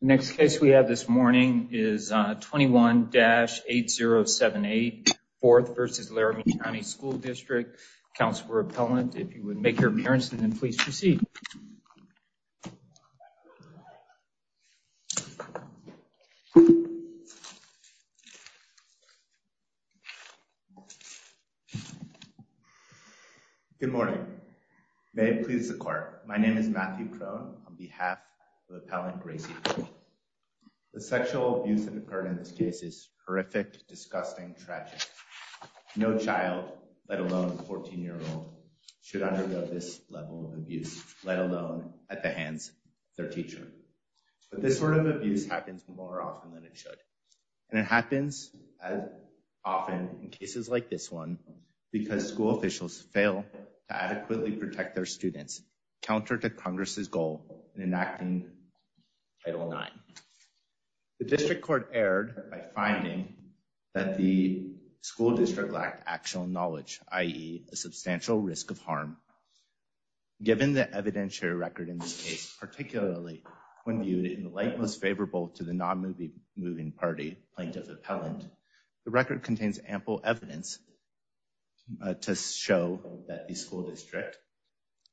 Next case we have this morning is 21-8078, 4th v. Laramie County School District. Counselor Appellant, if you would make your appearance and then please proceed. Good morning. May it please the Court. My name is Matthew Crone on behalf of Appellant Gracie Crone. The sexual abuse that occurred in this case is horrific, disgusting, tragic. No child, let alone a 14-year-old, should undergo this level of abuse, let alone at the hands of their teacher. But this sort of abuse happens more often than it should. And it happens as often in cases like this one because school officials fail to adequately protect their students, counter to Congress' goal in enacting Title IX. The District Court erred by finding that the school district lacked actual knowledge, i.e. a substantial risk of harm. Given the evidentiary record in this case, particularly when viewed in the light most favorable to the non-moving party, Plaintiff Appellant, the record contains ample evidence to show that the school district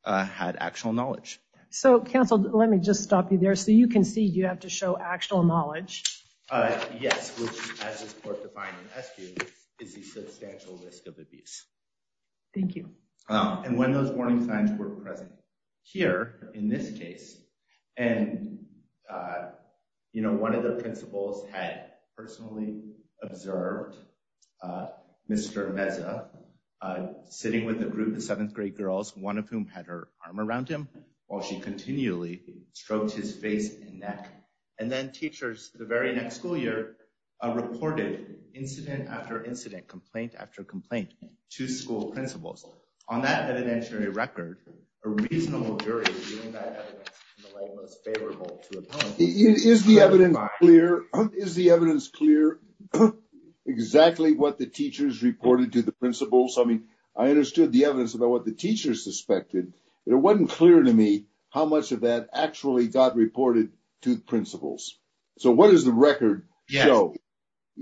had actual knowledge. So, Counsel, let me just stop you there. So you concede you have to show actual knowledge. Yes, which, as this Court defined in SQ, is a substantial risk of abuse. Thank you. And when those warning signs were present here, in this case, and, you know, one of the principals had personally observed Mr. Meza sitting with a group of 7th grade girls, one of whom had her arm around him while she continually stroked his face and neck. And then teachers, the very next school year, reported incident after incident, complaint after complaint, to school principals. On that evidentiary record, a reasonable jury viewed that evidence in the light most favorable to Appellant. Is the evidence clear? Is the evidence clear exactly what the teachers reported to the principals? I mean, I understood the evidence about what the teachers suspected. It wasn't clear to me how much of that actually got reported to the principals. So what does the record show?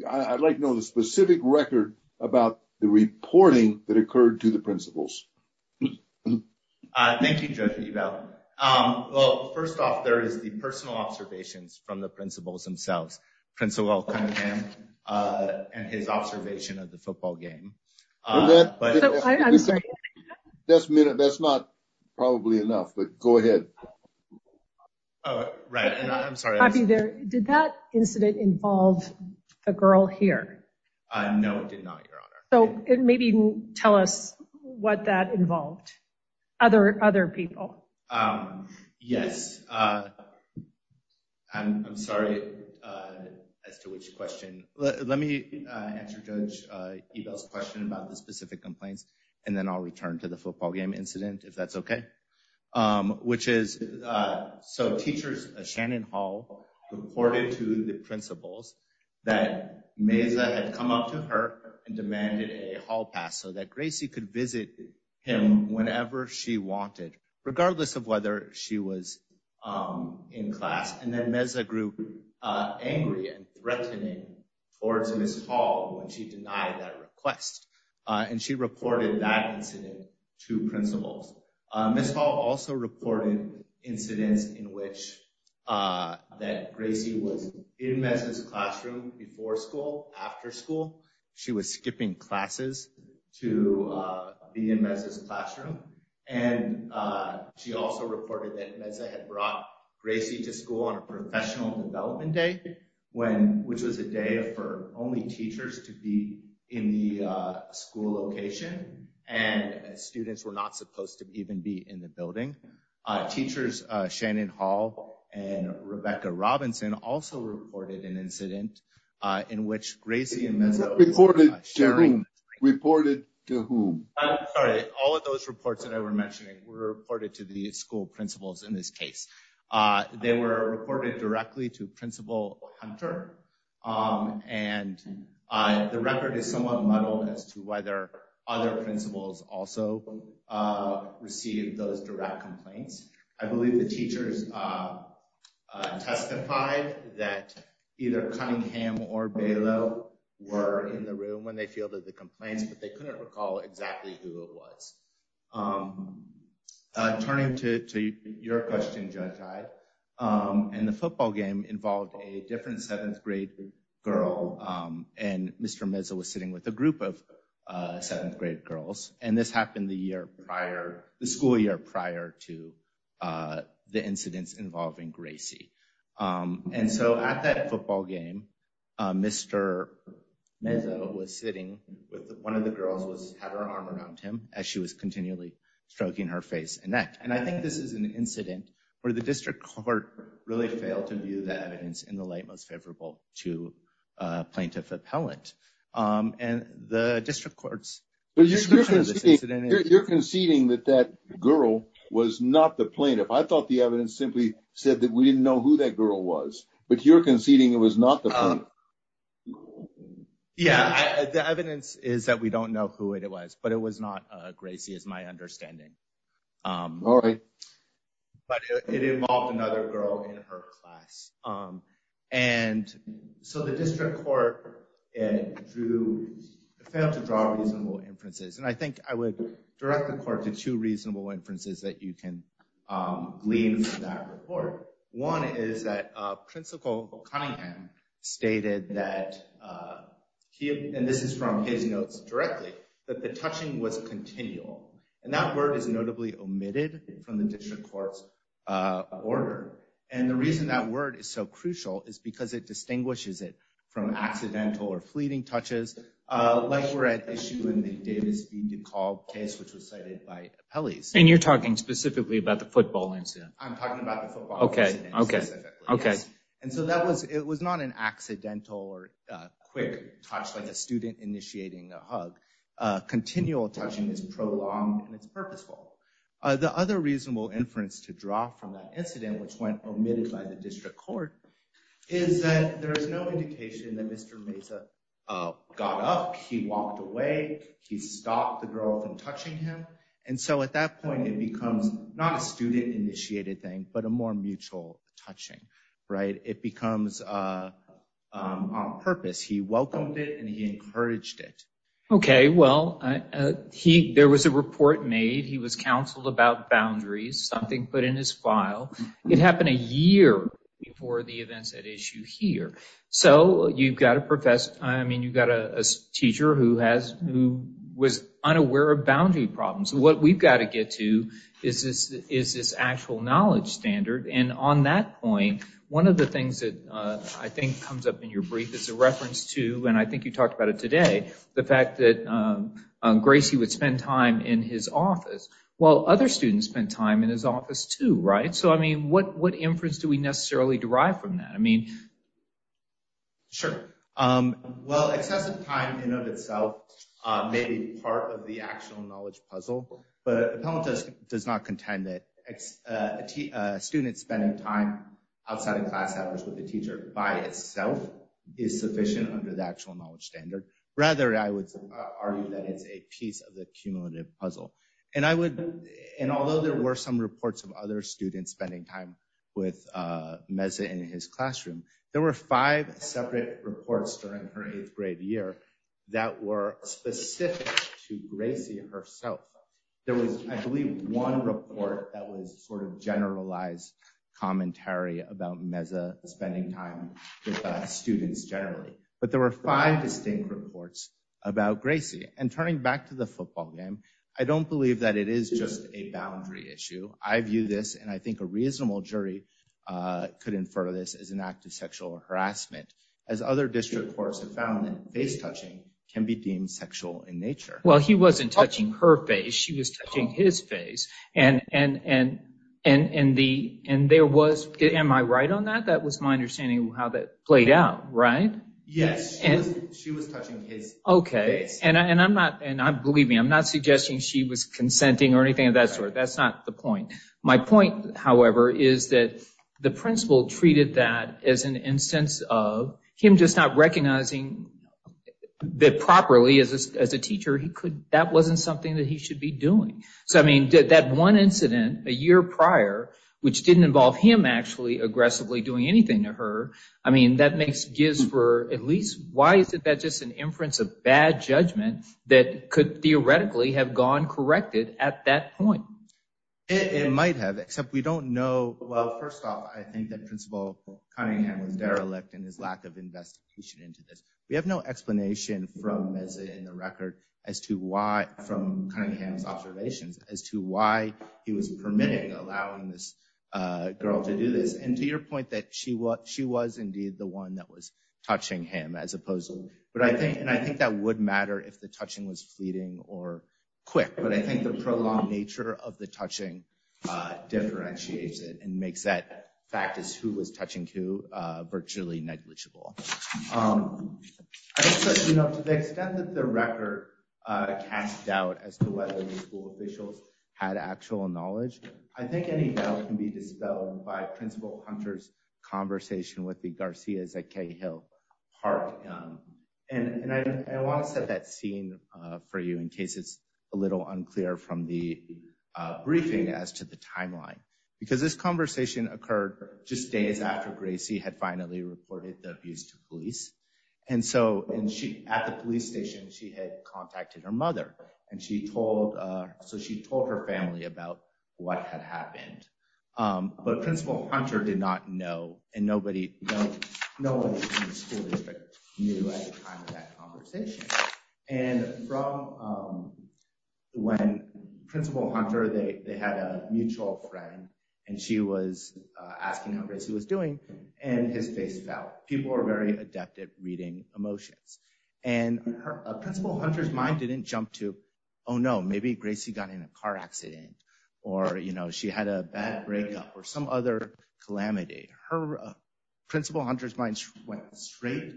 I'd like to know the specific record about the reporting that occurred to the principals. Thank you, Judge Ebel. Well, first off, there is the personal observations from the principals themselves. And his observation of the football game. I'm sorry. That's not probably enough, but go ahead. Right. I'm sorry. Did that incident involve a girl here? No, it did not, Your Honor. So maybe tell us what that involved. Other people. Yes. I'm sorry as to which question. Let me answer Judge Ebel's question about the specific complaints, and then I'll return to the football game incident, if that's OK. Which is so teachers, Shannon Hall reported to the principals that Meza had come up to her and demanded a hall pass so that Gracie could visit him whenever she wanted, regardless of whether she was in class. And then Meza grew angry and threatening towards Ms. Hall when she denied that request. And she reported that incident to principals. Ms. Hall also reported incidents in which that Gracie was in Meza's classroom before school, after school. She was skipping classes to be in Meza's classroom. And she also reported that Meza had brought Gracie to school on a professional development day, which was a day for only teachers to be in the school location, and students were not supposed to even be in the building. Teachers, Shannon Hall and Rebecca Robinson also reported an incident in which Gracie and Meza were sharing. Reported to who? All of those reports that I were mentioning were reported to the school principals in this case. They were reported directly to Principal Hunter, and the record is somewhat muddled as to whether other principals also received those direct complaints. I believe the teachers testified that either Cunningham or Balow were in the room when they fielded the complaints, but they couldn't recall exactly who it was. Turning to your question, Judge I, and the football game involved a different seventh grade girl, and Mr. Meza was sitting with a group of seventh grade girls. And this happened the school year prior to the incidents involving Gracie. And so at that football game, Mr. Meza was sitting with one of the girls, had her arm around him as she was continually stroking her face and neck. And I think this is an incident where the district court really failed to view the evidence in the light most favorable to plaintiff appellant. And the district courts... You're conceding that that girl was not the plaintiff. I thought the evidence simply said that we didn't know who that girl was, but you're conceding it was not the plaintiff. Yeah, the evidence is that we don't know who it was, but it was not Gracie is my understanding. All right. But it involved another girl in her class. And so the district court failed to draw reasonable inferences. And I think I would direct the court to two reasonable inferences that you can glean from that report. One is that Principal Cunningham stated that, and this is from his notes directly, that the touching was continual. And that word is notably omitted from the district court's order. And the reason that word is so crucial is because it distinguishes it from accidental or fleeting touches. Like we're at issue in the Davis v. DeKalb case, which was cited by appellees. And you're talking specifically about the football incident. I'm talking about the football incident specifically. And so that was it was not an accidental or quick touch like a student initiating a hug. Continual touching is prolonged and it's purposeful. The other reasonable inference to draw from that incident, which went omitted by the district court, is that there is no indication that Mr. Meza got up. He walked away. He stopped the girl from touching him. And so at that point, it becomes not a student initiated thing, but a more mutual touching. Right. It becomes on purpose. He welcomed it and he encouraged it. OK, well, he there was a report made. He was counseled about boundaries, something put in his file. It happened a year before the events at issue here. So you've got to profess. I mean, you've got a teacher who has who was unaware of boundary problems. What we've got to get to is this is this actual knowledge standard. And on that point, one of the things that I think comes up in your brief is a reference to and I think you talked about it today. The fact that Gracie would spend time in his office while other students spend time in his office, too. Right. So, I mean, what what inference do we necessarily derive from that? I mean. Sure. Well, excessive time in of itself may be part of the actual knowledge puzzle, but does does not contend that it's a student spending time outside of class hours with the teacher by itself is sufficient under the actual knowledge standard. Rather, I would argue that it's a piece of the cumulative puzzle. And I would. And although there were some reports of other students spending time with Mesa in his classroom, there were five separate reports during her eighth grade year that were specific to Gracie herself. There was, I believe, one report that was sort of generalized commentary about Mesa spending time with students generally. But there were five distinct reports about Gracie and turning back to the football game. I don't believe that it is just a boundary issue. I view this and I think a reasonable jury could infer this as an act of sexual harassment, as other district courts have found that face touching can be deemed sexual in nature. Well, he wasn't touching her face. She was touching his face. And there was. Am I right on that? That was my understanding of how that played out, right? Yes. And she was touching his face. OK. And I'm not and I believe me, I'm not suggesting she was consenting or anything of that sort. That's not the point. My point, however, is that the principal treated that as an instance of him just not recognizing that properly as a teacher. He could. That wasn't something that he should be doing. So, I mean, that one incident a year prior, which didn't involve him actually aggressively doing anything to her. I mean, that makes gives for at least. Why is it that just an inference of bad judgment that could theoretically have gone corrected at that point? It might have, except we don't know. Well, first off, I think that Principal Cunningham was derelict in his lack of investigation into this. We have no explanation from as in the record as to why from Cunningham's observations as to why he was permitting, allowing this girl to do this and to your point that she what she was indeed the one that was touching him as opposed to. But I think and I think that would matter if the touching was fleeting or quick. But I think the prolonged nature of the touching differentiates it and makes that fact is who was touching who virtually negligible. You know, to the extent that the record cast doubt as to whether the school officials had actual knowledge. I think any doubt can be dispelled by Principal Hunter's conversation with the Garcia's at Cahill Park. And I want to set that scene for you in case it's a little unclear from the briefing as to the timeline, because this conversation occurred just days after Gracie had finally reported the abuse to police. And so and she at the police station, she had contacted her mother and she told so she told her family about what had happened. But Principal Hunter did not know. And nobody, nobody in the school district knew at the time of that conversation. And from when Principal Hunter, they had a mutual friend and she was asking how Gracie was doing and his face fell. People are very adept at reading emotions. And Principal Hunter's mind didn't jump to, oh, no, maybe Gracie got in a car accident. Or, you know, she had a bad breakup or some other calamity. Her Principal Hunter's mind went straight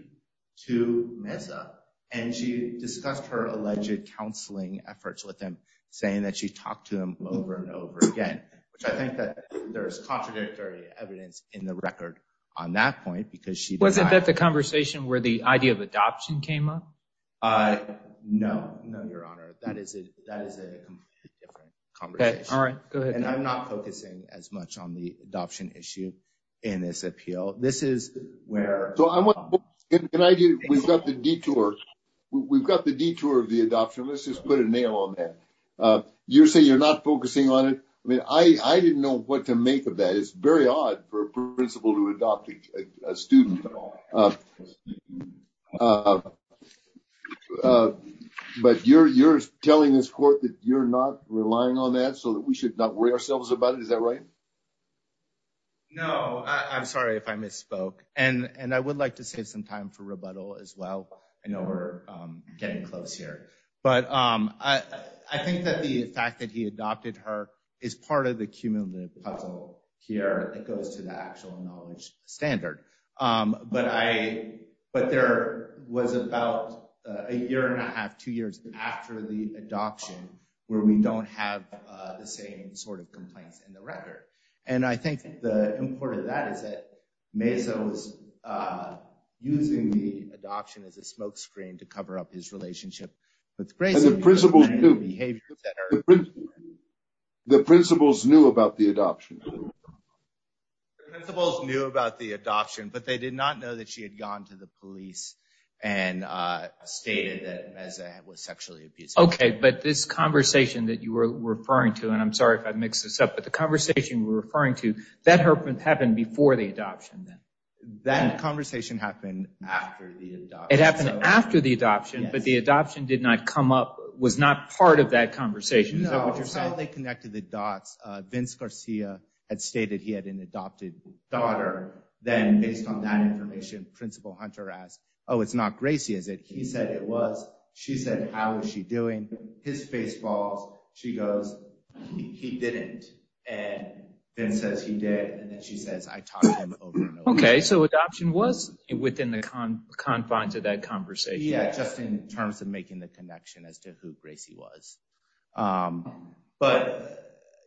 to Mesa and she discussed her alleged counseling efforts with him, saying that she talked to him over and over again. I think that there is contradictory evidence in the record on that point because she wasn't at the conversation where the idea of adoption came up. No, no, Your Honor, that is it. That is a different conversation. All right. Go ahead. And I'm not focusing as much on the adoption issue in this appeal. This is where I want. And I do. We've got the detour. We've got the detour of the adoption. Let's just put a nail on that. You're saying you're not focusing on it. I mean, I didn't know what to make of that. It's very odd for a principal to adopt a student. But you're you're telling this court that you're not relying on that so that we should not worry ourselves about it. Is that right? No, I'm sorry if I misspoke. And I would like to save some time for rebuttal as well. I know we're getting close here, but I think that the fact that he adopted her is part of the cumulative puzzle here. It goes to the actual knowledge standard. But I. But there was about a year and a half, two years after the adoption where we don't have the same sort of complaints in the record. And I think the importance of that is that Mesa was using the adoption as a smokescreen to cover up his relationship with Grace. And the principals knew. The principals knew about the adoption. The principals knew about the adoption, but they did not know that she had gone to the police and stated that Mesa was sexually abused. OK, but this conversation that you were referring to, and I'm sorry if I mix this up, but the conversation we're referring to that happened before the adoption. Then that conversation happened after the it happened after the adoption. But the adoption did not come up was not part of that conversation. So they connected the dots. Vince Garcia had stated he had an adopted daughter. Then based on that information, Principal Hunter asked, oh, it's not Gracie, is it? He said it was. She said, how is she doing? His face falls. She goes, he didn't. And then says he did. And then she says, I talked to him. OK, so adoption was within the confines of that conversation. Yeah, just in terms of making the connection as to who Gracie was. But,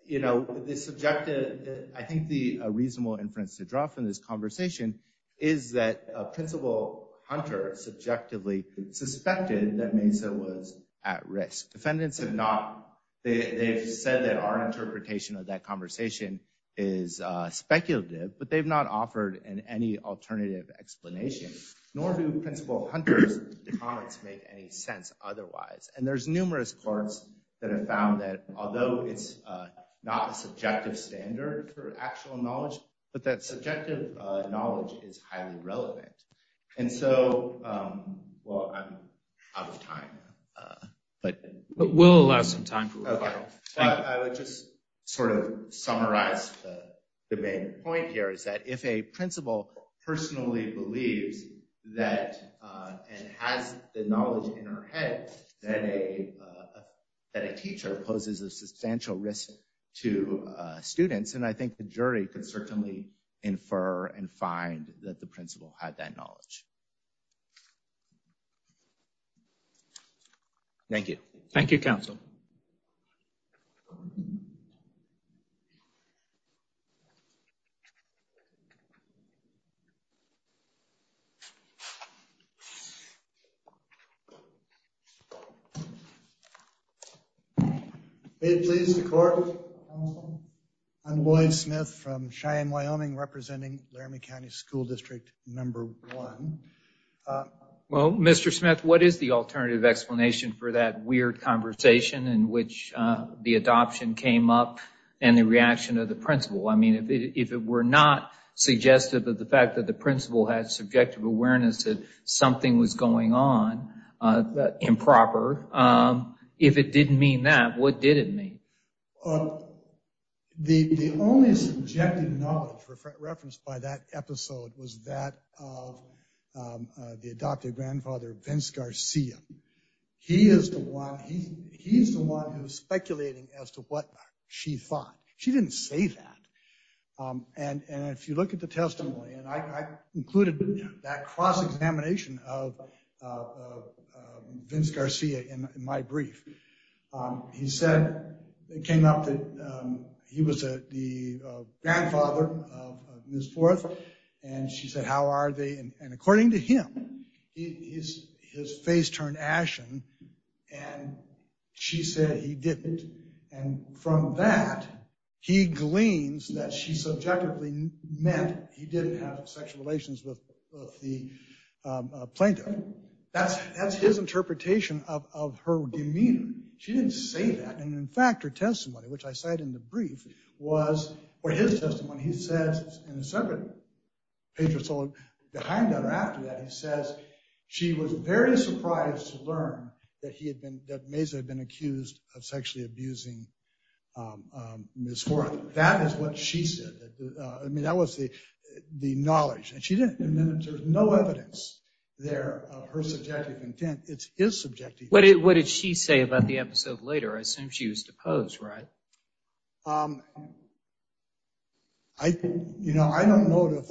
you know, this objective, I think the reasonable inference to draw from this conversation is that Principal Hunter subjectively suspected that Mesa was at risk. Defendants have not said that our interpretation of that conversation is speculative, but they've not offered any alternative explanation, nor do Principal Hunter's comments make any sense otherwise. And there's numerous courts that have found that although it's not a subjective standard for actual knowledge, but that subjective knowledge is highly relevant. And so, well, I'm out of time, but we'll allow some time. I would just sort of summarize the main point here is that if a principal personally believes that and has the knowledge in her head that a teacher poses a substantial risk to students, and I think the jury could certainly infer and find that the principal had that knowledge. Thank you. Thank you. Council. I'm Boyd Smith from Cheyenne, Wyoming, representing Laramie County School District number one. Well, Mr. Smith, what is the alternative explanation for that weird conversation in which the adoption came up and the reaction of the principal? I mean, if it were not suggestive of the fact that the principal had subjective awareness that something was going on improper, if it didn't mean that, what did it mean? The only subjective knowledge referenced by that episode was that of the adopted grandfather, Vince Garcia. He is the one he he's the one who's speculating as to what she thought. She didn't say that. And if you look at the testimony and I included that cross examination of Vince Garcia in my brief, he said it came up that he was the grandfather of Miss Forth. And she said, how are they? And according to him, he is his face turned ashen. And she said he didn't. And from that, he gleans that she subjectively meant he didn't have sexual relations with the plaintiff. That's that's his interpretation of her demeanor. She didn't say that. And in fact, her testimony, which I cite in the brief, was his testimony. He says in a separate page or so behind that or after that, he says she was very surprised to learn that he had been that Mesa had been accused of sexually abusing Miss Forth. That is what she said. I mean, that was the the knowledge. And she didn't. And then there's no evidence there of her subjective intent. It's his subjective. What did she say about the episode later? I assume she was deposed, right? I, you know, I don't know if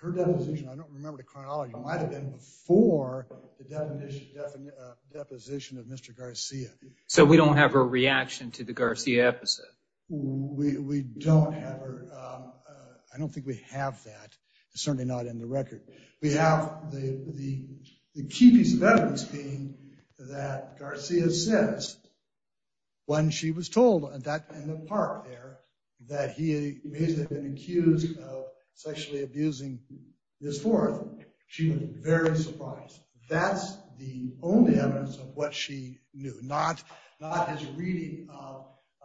her deposition, I don't remember the chronology might have been before the deposition of Mr. Garcia. So we don't have a reaction to the Garcia episode. We don't have her. I don't think we have that. Certainly not in the record. We have the the the key piece of evidence being that Garcia says. When she was told that in the park there that he may have been accused of sexually abusing Miss Forth, she was very surprised. That's the only evidence of what she knew, not not as reading,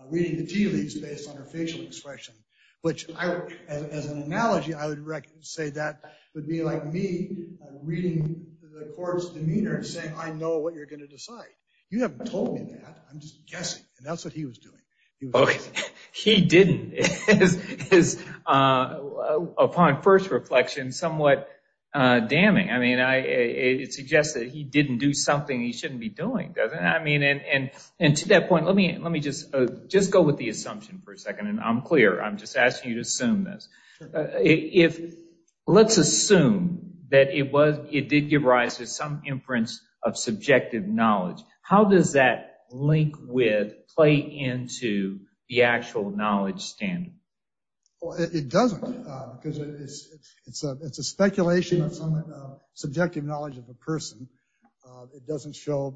reading the TV space on her facial expression, which as an analogy, I would say that would be like me reading the court's demeanor and saying, I know what you're going to decide. You haven't told me that. I'm just guessing. And that's what he was doing. He didn't is upon first reflection, somewhat damning. I mean, I it suggests that he didn't do something he shouldn't be doing. I mean, and and to that point, let me let me just just go with the assumption for a second. And I'm clear. I'm just asking you to assume this. If let's assume that it was it did give rise to some imprints of subjective knowledge. How does that link with play into the actual knowledge standard? Well, it doesn't because it's it's a it's a speculation of subjective knowledge of a person. It doesn't show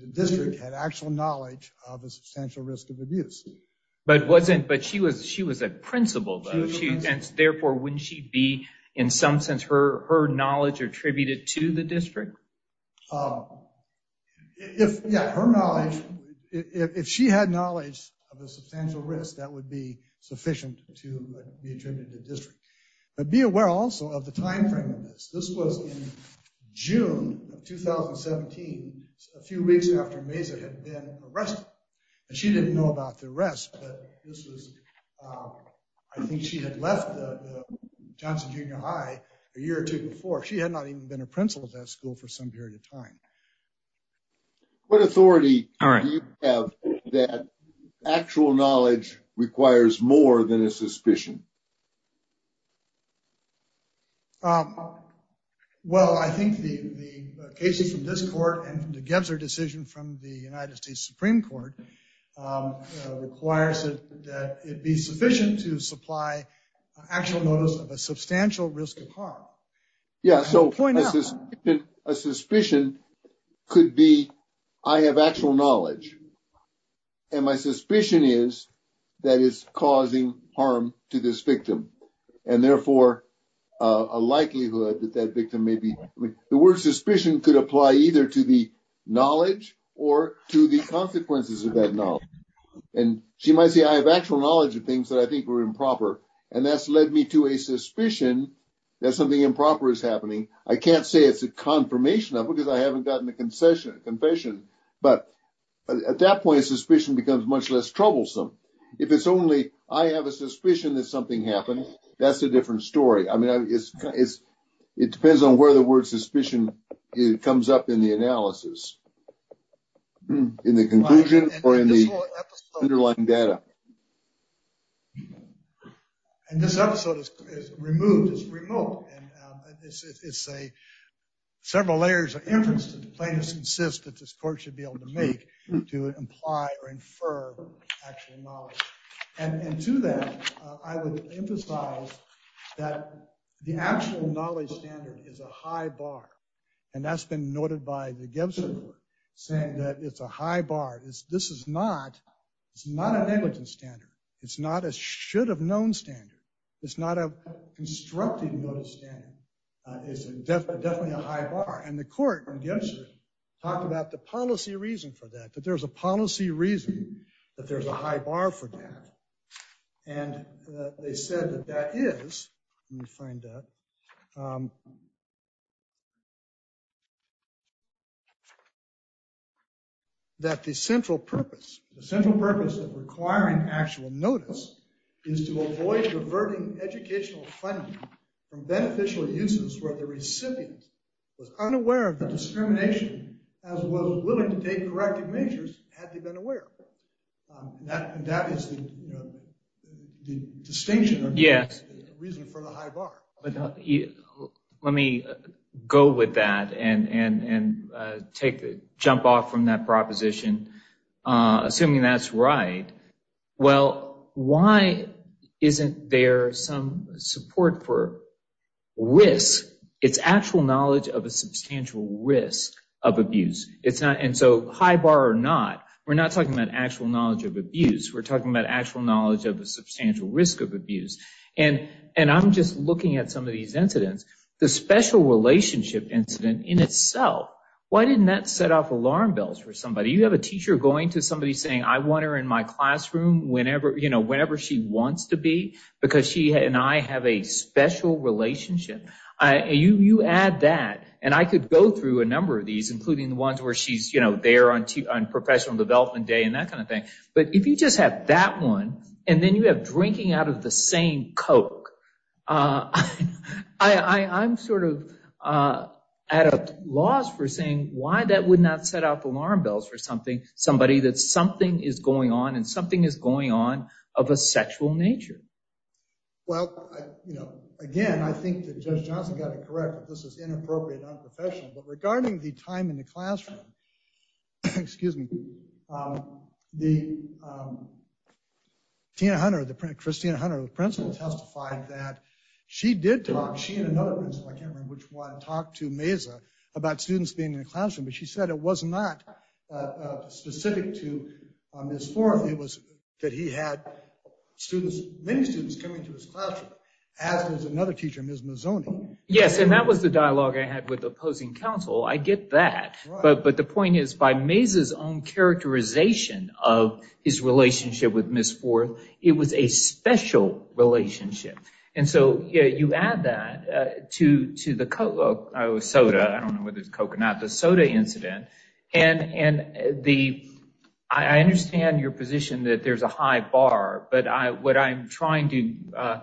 the district had actual knowledge of a substantial risk of abuse. But it wasn't. But she was she was a principal. She therefore wouldn't she be in some sense her her knowledge attributed to the district. If her knowledge, if she had knowledge of a substantial risk, that would be sufficient to be attributed to district. But be aware also of the time frame of this. This was in June of 2017, a few weeks after Mesa had been arrested and she didn't know about the rest. But this was I think she had left the Johnson Junior High a year or two before. She had not even been a principal at that school for some period of time. What authority do you have that actual knowledge requires more than a suspicion? Well, I think the the cases in this court and the Gebser decision from the United States Supreme Court requires that it be sufficient to supply actual notice of a substantial risk of harm. Yeah. So a suspicion could be I have actual knowledge. And my suspicion is that is causing harm to this victim and therefore a likelihood that that victim may be the word suspicion could apply either to the knowledge or to the consequences of that. And she might say, I have actual knowledge of things that I think were improper. And that's led me to a suspicion that something improper is happening. I can't say it's a confirmation of it because I haven't gotten a concession, a confession. But at that point, suspicion becomes much less troublesome. If it's only I have a suspicion that something happened, that's a different story. I mean, it's it's it depends on where the word suspicion comes up in the analysis, in the conclusion or in the underlying data. And this episode is removed as remote. And this is a several layers of inference to the plaintiffs insist that this court should be able to make to imply or infer actual knowledge. And to that, I would emphasize that the actual knowledge standard is a high bar. And that's been noted by the Gebser saying that it's a high bar. This is not it's not a negligence standard. It's not a should have known standard. It's not a constructed notice. It's definitely a high bar. And the court gets to talk about the policy reason for that, that there's a policy reason that there's a high bar for that. And they said that that is you find that. That the central purpose, the central purpose of requiring actual notice is to avoid diverting educational funding from beneficial uses, where the recipient was unaware of the discrimination as well as willing to take corrective measures. Had they been aware that that is the distinction. Yes. Reason for the high bar. Let me go with that and and take the jump off from that proposition. Assuming that's right. Well, why isn't there some support for risk? It's actual knowledge of a substantial risk of abuse. It's not. And so high bar or not, we're not talking about actual knowledge of abuse. We're talking about actual knowledge of the substantial risk of abuse. And and I'm just looking at some of these incidents, the special relationship incident in itself. Why didn't that set off alarm bells for somebody? You have a teacher going to somebody saying, I want her in my classroom whenever, you know, whenever she wants to be, because she and I have a special relationship. You add that and I could go through a number of these, including the ones where she's, you know, there on professional development day and that kind of thing. But if you just have that one and then you have drinking out of the same Coke, I'm sort of at a loss for saying why that would not set off alarm bells for something. Somebody that something is going on and something is going on of a sexual nature. Well, you know, again, I think that Judge Johnson got it correct. This is inappropriate, unprofessional, but regarding the time in the classroom. Excuse me. The Tina Hunter, the Christina Hunter principal testified that she did talk. She and another principal, I can't remember which one, talked to Meza about students being in the classroom. But she said it was not specific to Ms. Forth. It was that he had students, many students coming to his classroom, as was another teacher, Ms. Mazzoni. Yes. And that was the dialogue I had with opposing counsel. I get that. But the point is, by Meza's own characterization of his relationship with Ms. Forth, it was a special relationship. And so you add that to the Coke soda. I don't know whether it's Coke or not, the soda incident. And and the I understand your position that there's a high bar. But I what I'm trying to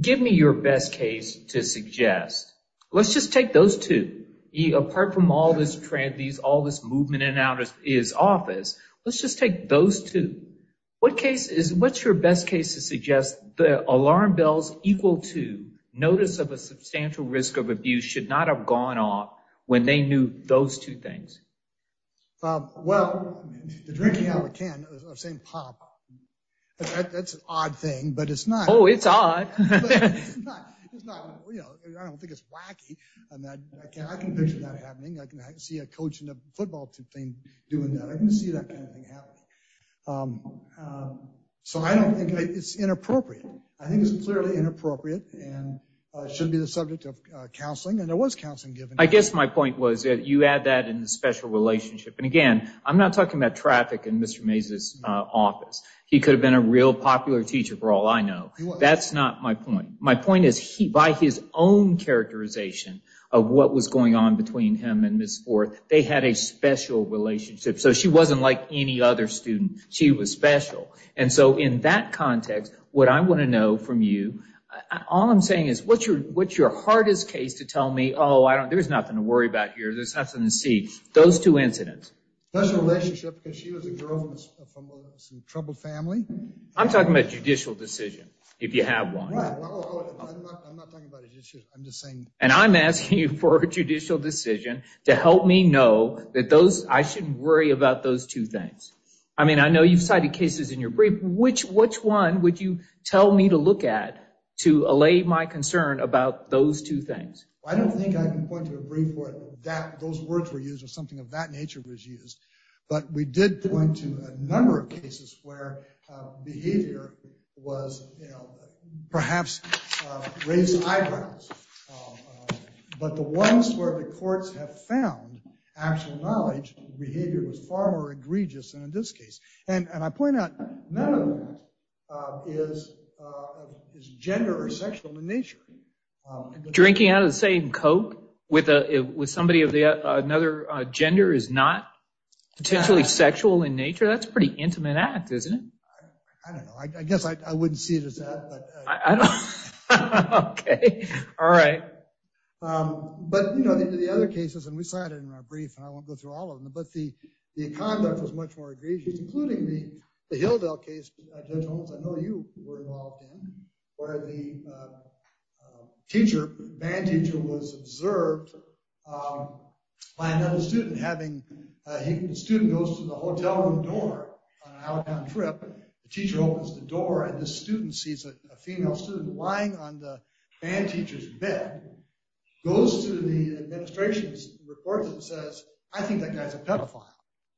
give me your best case to suggest, let's just take those two apart from all this. These all this movement in and out of his office. Let's just take those two. What case is what's your best case to suggest the alarm bells equal to notice of a substantial risk of abuse should not have gone off when they knew those two things? Well, the drinking out of a can of St. Pop, that's an odd thing, but it's not. Oh, it's odd. I don't think it's wacky. And I can picture that happening. I can see a coach in a football team doing that. I can see that kind of thing happening. So I don't think it's inappropriate. I think it's clearly inappropriate and shouldn't be the subject of counseling. And there was counseling given. I guess my point was that you add that in the special relationship. And again, I'm not talking about traffic in Mr. Meza's office. He could have been a real popular teacher for all I know. That's not my point. My point is he by his own characterization of what was going on between him and Miss Forth. They had a special relationship. So she wasn't like any other student. She was special. And so in that context, what I want to know from you, all I'm saying is what's your what's your hardest case to tell me? Oh, I don't there's nothing to worry about here. There's nothing to see those two incidents. Because she was a girl from some troubled family. I'm talking about judicial decision. If you have one. I'm not talking about it. I'm just saying. And I'm asking you for a judicial decision to help me know that those I shouldn't worry about those two things. I mean, I know you've cited cases in your brief, which which one would you tell me to look at to allay my concern about those two things? I don't think I can point to a brief where that those words were used or something of that nature was used. But we did point to a number of cases where behavior was perhaps raised eyebrows. But the ones where the courts have found actual knowledge, behavior was far more egregious in this case. And I point out none of that is gender or sexual in nature. Drinking out of the same Coke with somebody of another gender is not potentially sexual in nature. That's pretty intimate act, isn't it? I don't know. I guess I wouldn't see it as that. All right. But, you know, the other cases and we cited in our brief, I won't go through all of them. But the the conduct was much more egregious, including the Hilldale case. I know you were involved in where the teacher manager was observed by another student having a student goes to the hotel room door. The teacher opens the door and the student sees a female student lying on the band teacher's bed, goes to the administration's reports and says, I think that guy's a pedophile.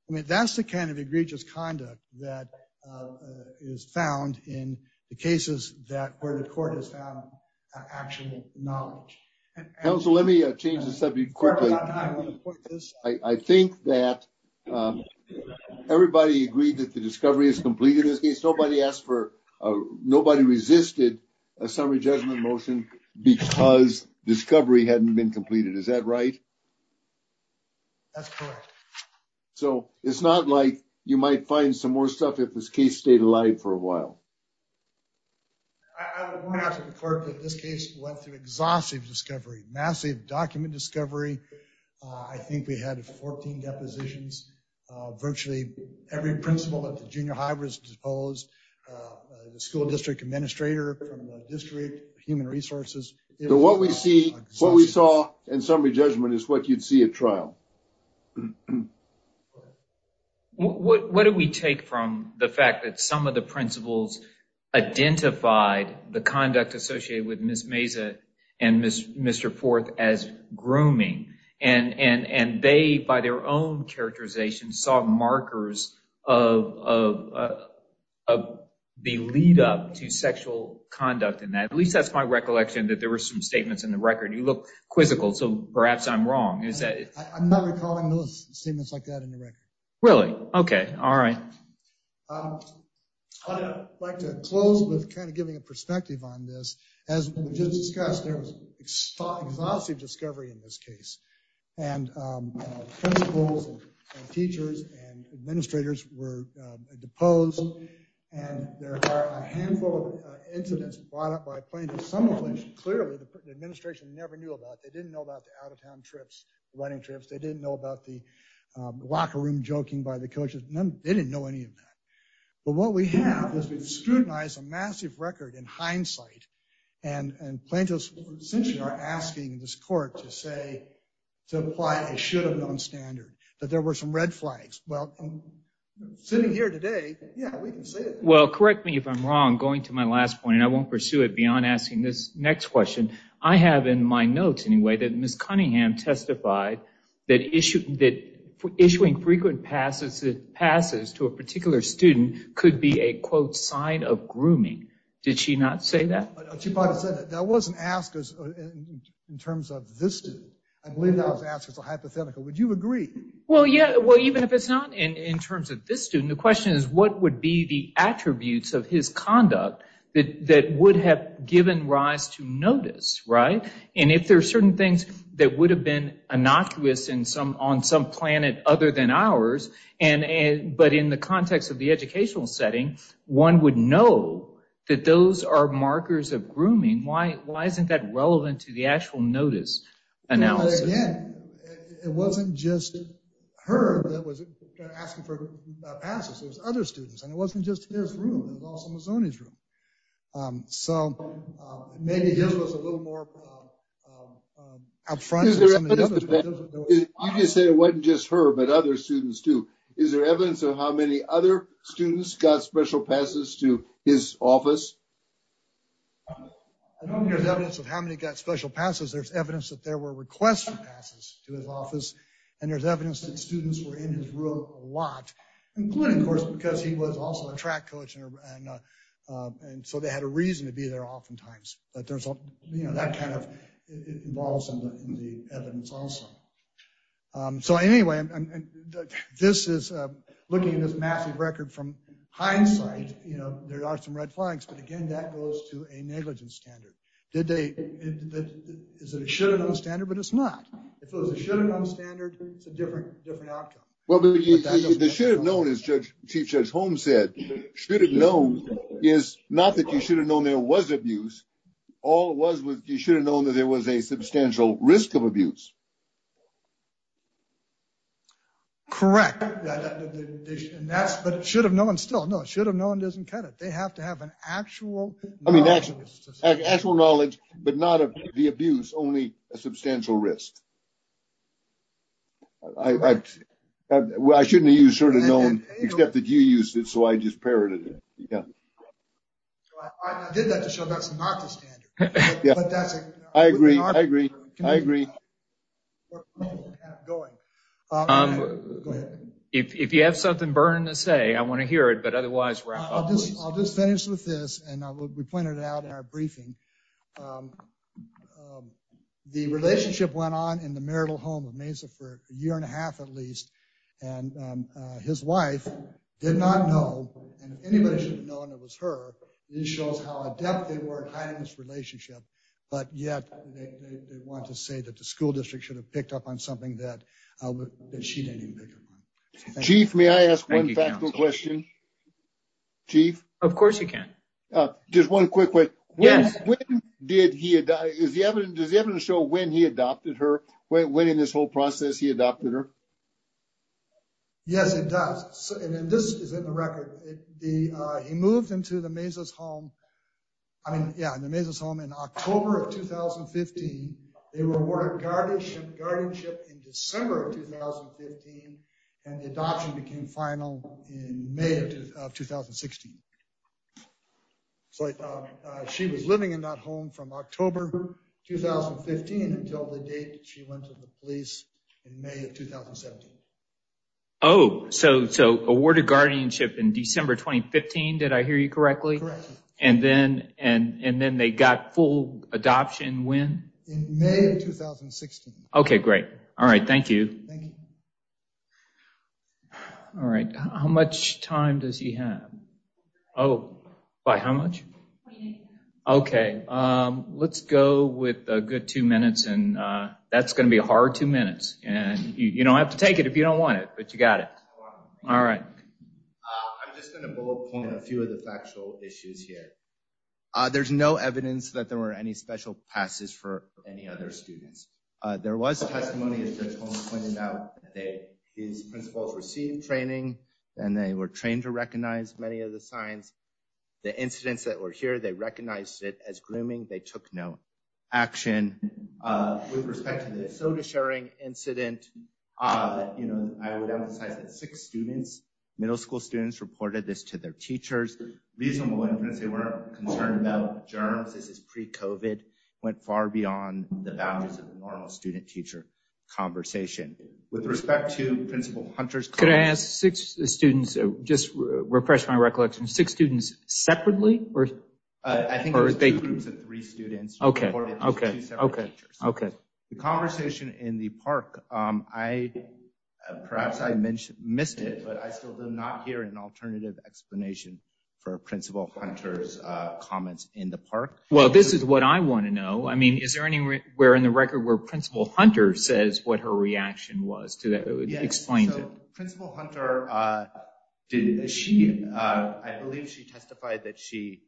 I mean, that's the kind of egregious conduct that is found in the cases that where the court has found actual knowledge. Let me change the subject quickly. I think that everybody agreed that the discovery is completed. Nobody asked for nobody resisted a summary judgment motion because discovery hadn't been completed. Is that right? So it's not like you might find some more stuff if this case stayed alive for a while. I would point out to the court that this case went through exhaustive discovery, massive document discovery. I think we had 14 depositions, virtually every principal at the junior high was disposed. The school district administrator from the district human resources. So what we see, what we saw in summary judgment is what you'd see a trial. What do we take from the fact that some of the principals identified the conduct associated with Miss Mesa and Mr. Forth as grooming and they, by their own characterization, saw markers of the lead up to sexual conduct in that. At least that's my recollection that there were some statements in the record. You look quizzical. So perhaps I'm wrong. I'm not recalling those statements like that in the record. Really? OK. All right. I'd like to close with kind of giving a perspective on this. As we just discussed, there was exhaustive discovery in this case. And principals and teachers and administrators were deposed. And there are a handful of incidents brought up by plaintiffs, some of which clearly the administration never knew about. They didn't know about the out of town trips, running trips. They didn't know about the locker room joking by the coaches. They didn't know any of that. But what we have is we've scrutinized a massive record in hindsight. And plaintiffs essentially are asking this court to say to apply a should have known standard that there were some red flags. Well, sitting here today. Yeah, we can say it. Well, correct me if I'm wrong. Going to my last point, and I won't pursue it beyond asking this next question. I have in my notes, anyway, that Miss Cunningham testified that issued that issuing frequent passes. It passes to a particular student could be a, quote, sign of grooming. Did she not say that? She said that wasn't asked in terms of this. I believe that was asked as a hypothetical. Would you agree? Well, yeah. Well, even if it's not in terms of this student, the question is, what would be the attributes of his conduct that would have given rise to notice? Right. And if there are certain things that would have been innocuous in some on some planet other than ours. And but in the context of the educational setting, one would know that those are markers of grooming. Why? Why isn't that relevant to the actual notice? And now, again, it wasn't just her that was asking for passes. Other students. And it wasn't just his room was on his room. So maybe it was a little more out front. I just said it wasn't just her, but other students, too. Is there evidence of how many other students got special passes to his office? I don't hear the evidence of how many got special passes. There's evidence that there were requests for passes to his office. And there's evidence that students were in his room a lot, including, of course, because he was also a track coach. And so they had a reason to be there oftentimes. But there's that kind of involves in the evidence also. So anyway, this is looking at this massive record from hindsight. You know, there are some red flags, but again, that goes to a negligence standard. Is it a should have known standard? But it's not. If it was a should have known standard, it's a different, different outcome. Well, the should have known, as Chief Judge Holmes said, should have known is not that you should have known there was abuse. All it was was you should have known that there was a substantial risk of abuse. Correct. And that's what it should have known still. No, it should have known doesn't cut it. They have to have an actual, I mean, actual knowledge, but not of the abuse, only a substantial risk. I shouldn't have you sort of known except that you used it, so I just parroted it. So I did that to show that's not the standard. I agree. I agree. I agree. Going on, if you have something burning to say, I want to hear it, but otherwise I'll just finish with this. And we pointed it out in our briefing. The relationship went on in the marital home of Mesa for a year and a half, at least. And his wife did not know. Anybody should have known it was her. It shows how adept they were in this relationship, but yet they want to say that the school district should have picked up on something that she didn't even pick up on. Chief, may I ask one question? Chief? Of course you can. Just one quick question. Yes. When did he die? Is the evidence does the evidence show when he adopted her? When in this whole process, he adopted her? Yes, it does. And this is in the record. He moved into the Mesa's home. I mean, yeah, the Mesa's home in October of 2015. They were awarded guardianship in December of 2015. And the adoption became final in May of 2016. So she was living in that home from October 2015 until the date she went to the police in May of 2017. Oh, so awarded guardianship in December 2015. Did I hear you correctly? Correct. And then and then they got full adoption when? In May of 2016. OK, great. All right. Thank you. Thank you. All right. How much time does he have? Oh, by how much? OK, let's go with a good two minutes and that's going to be a hard two minutes. And, you know, I have to take it if you don't want it, but you got it. All right. I'm just going to bullet point a few of the factual issues here. There's no evidence that there were any special passes for any other students. There was testimony, as Judge Holmes pointed out, that his principals received training and they were trained to recognize many of the signs. The incidents that were here, they recognized it as grooming. They took no action with respect to the soda sharing incident. You know, I would emphasize that six students, middle school students reported this to their teachers. Reasonable inference. They weren't concerned about germs. This is pre-COVID went far beyond the boundaries of the normal student teacher conversation. With respect to Principal Hunter's. Could I ask six students to just refresh my recollection, six students separately? I think there's two groups of three students. OK, OK, OK, OK. The conversation in the park, I perhaps I missed it, but I still do not hear an alternative explanation for Principal Hunter's comments in the park. Well, this is what I want to know. I mean, is there anywhere in the record where Principal Hunter says what her reaction was to that? Explain to Principal Hunter. Did she? I believe she testified that she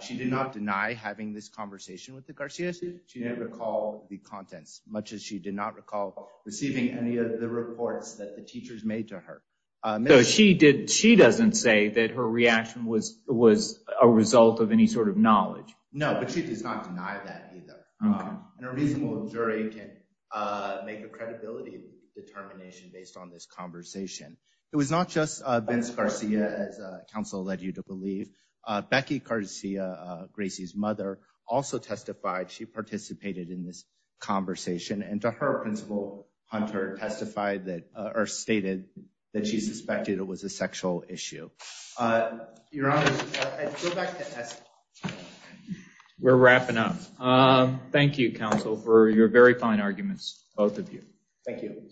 she did not deny having this conversation with the Garcia's. She didn't recall the contents much as she did not recall receiving any of the reports that the teachers made to her. So she did. She doesn't say that her reaction was was a result of any sort of knowledge. No, but she does not deny that either. And a reasonable jury can make a credibility determination based on this conversation. It was not just Vince Garcia as counsel led you to believe. Becky Garcia, Gracie's mother, also testified. She participated in this conversation and to her, Principal Hunter testified that or stated that she suspected it was a sexual issue. Your Honor, we're wrapping up. Thank you, counsel, for your very fine arguments. Both of you. Thank you.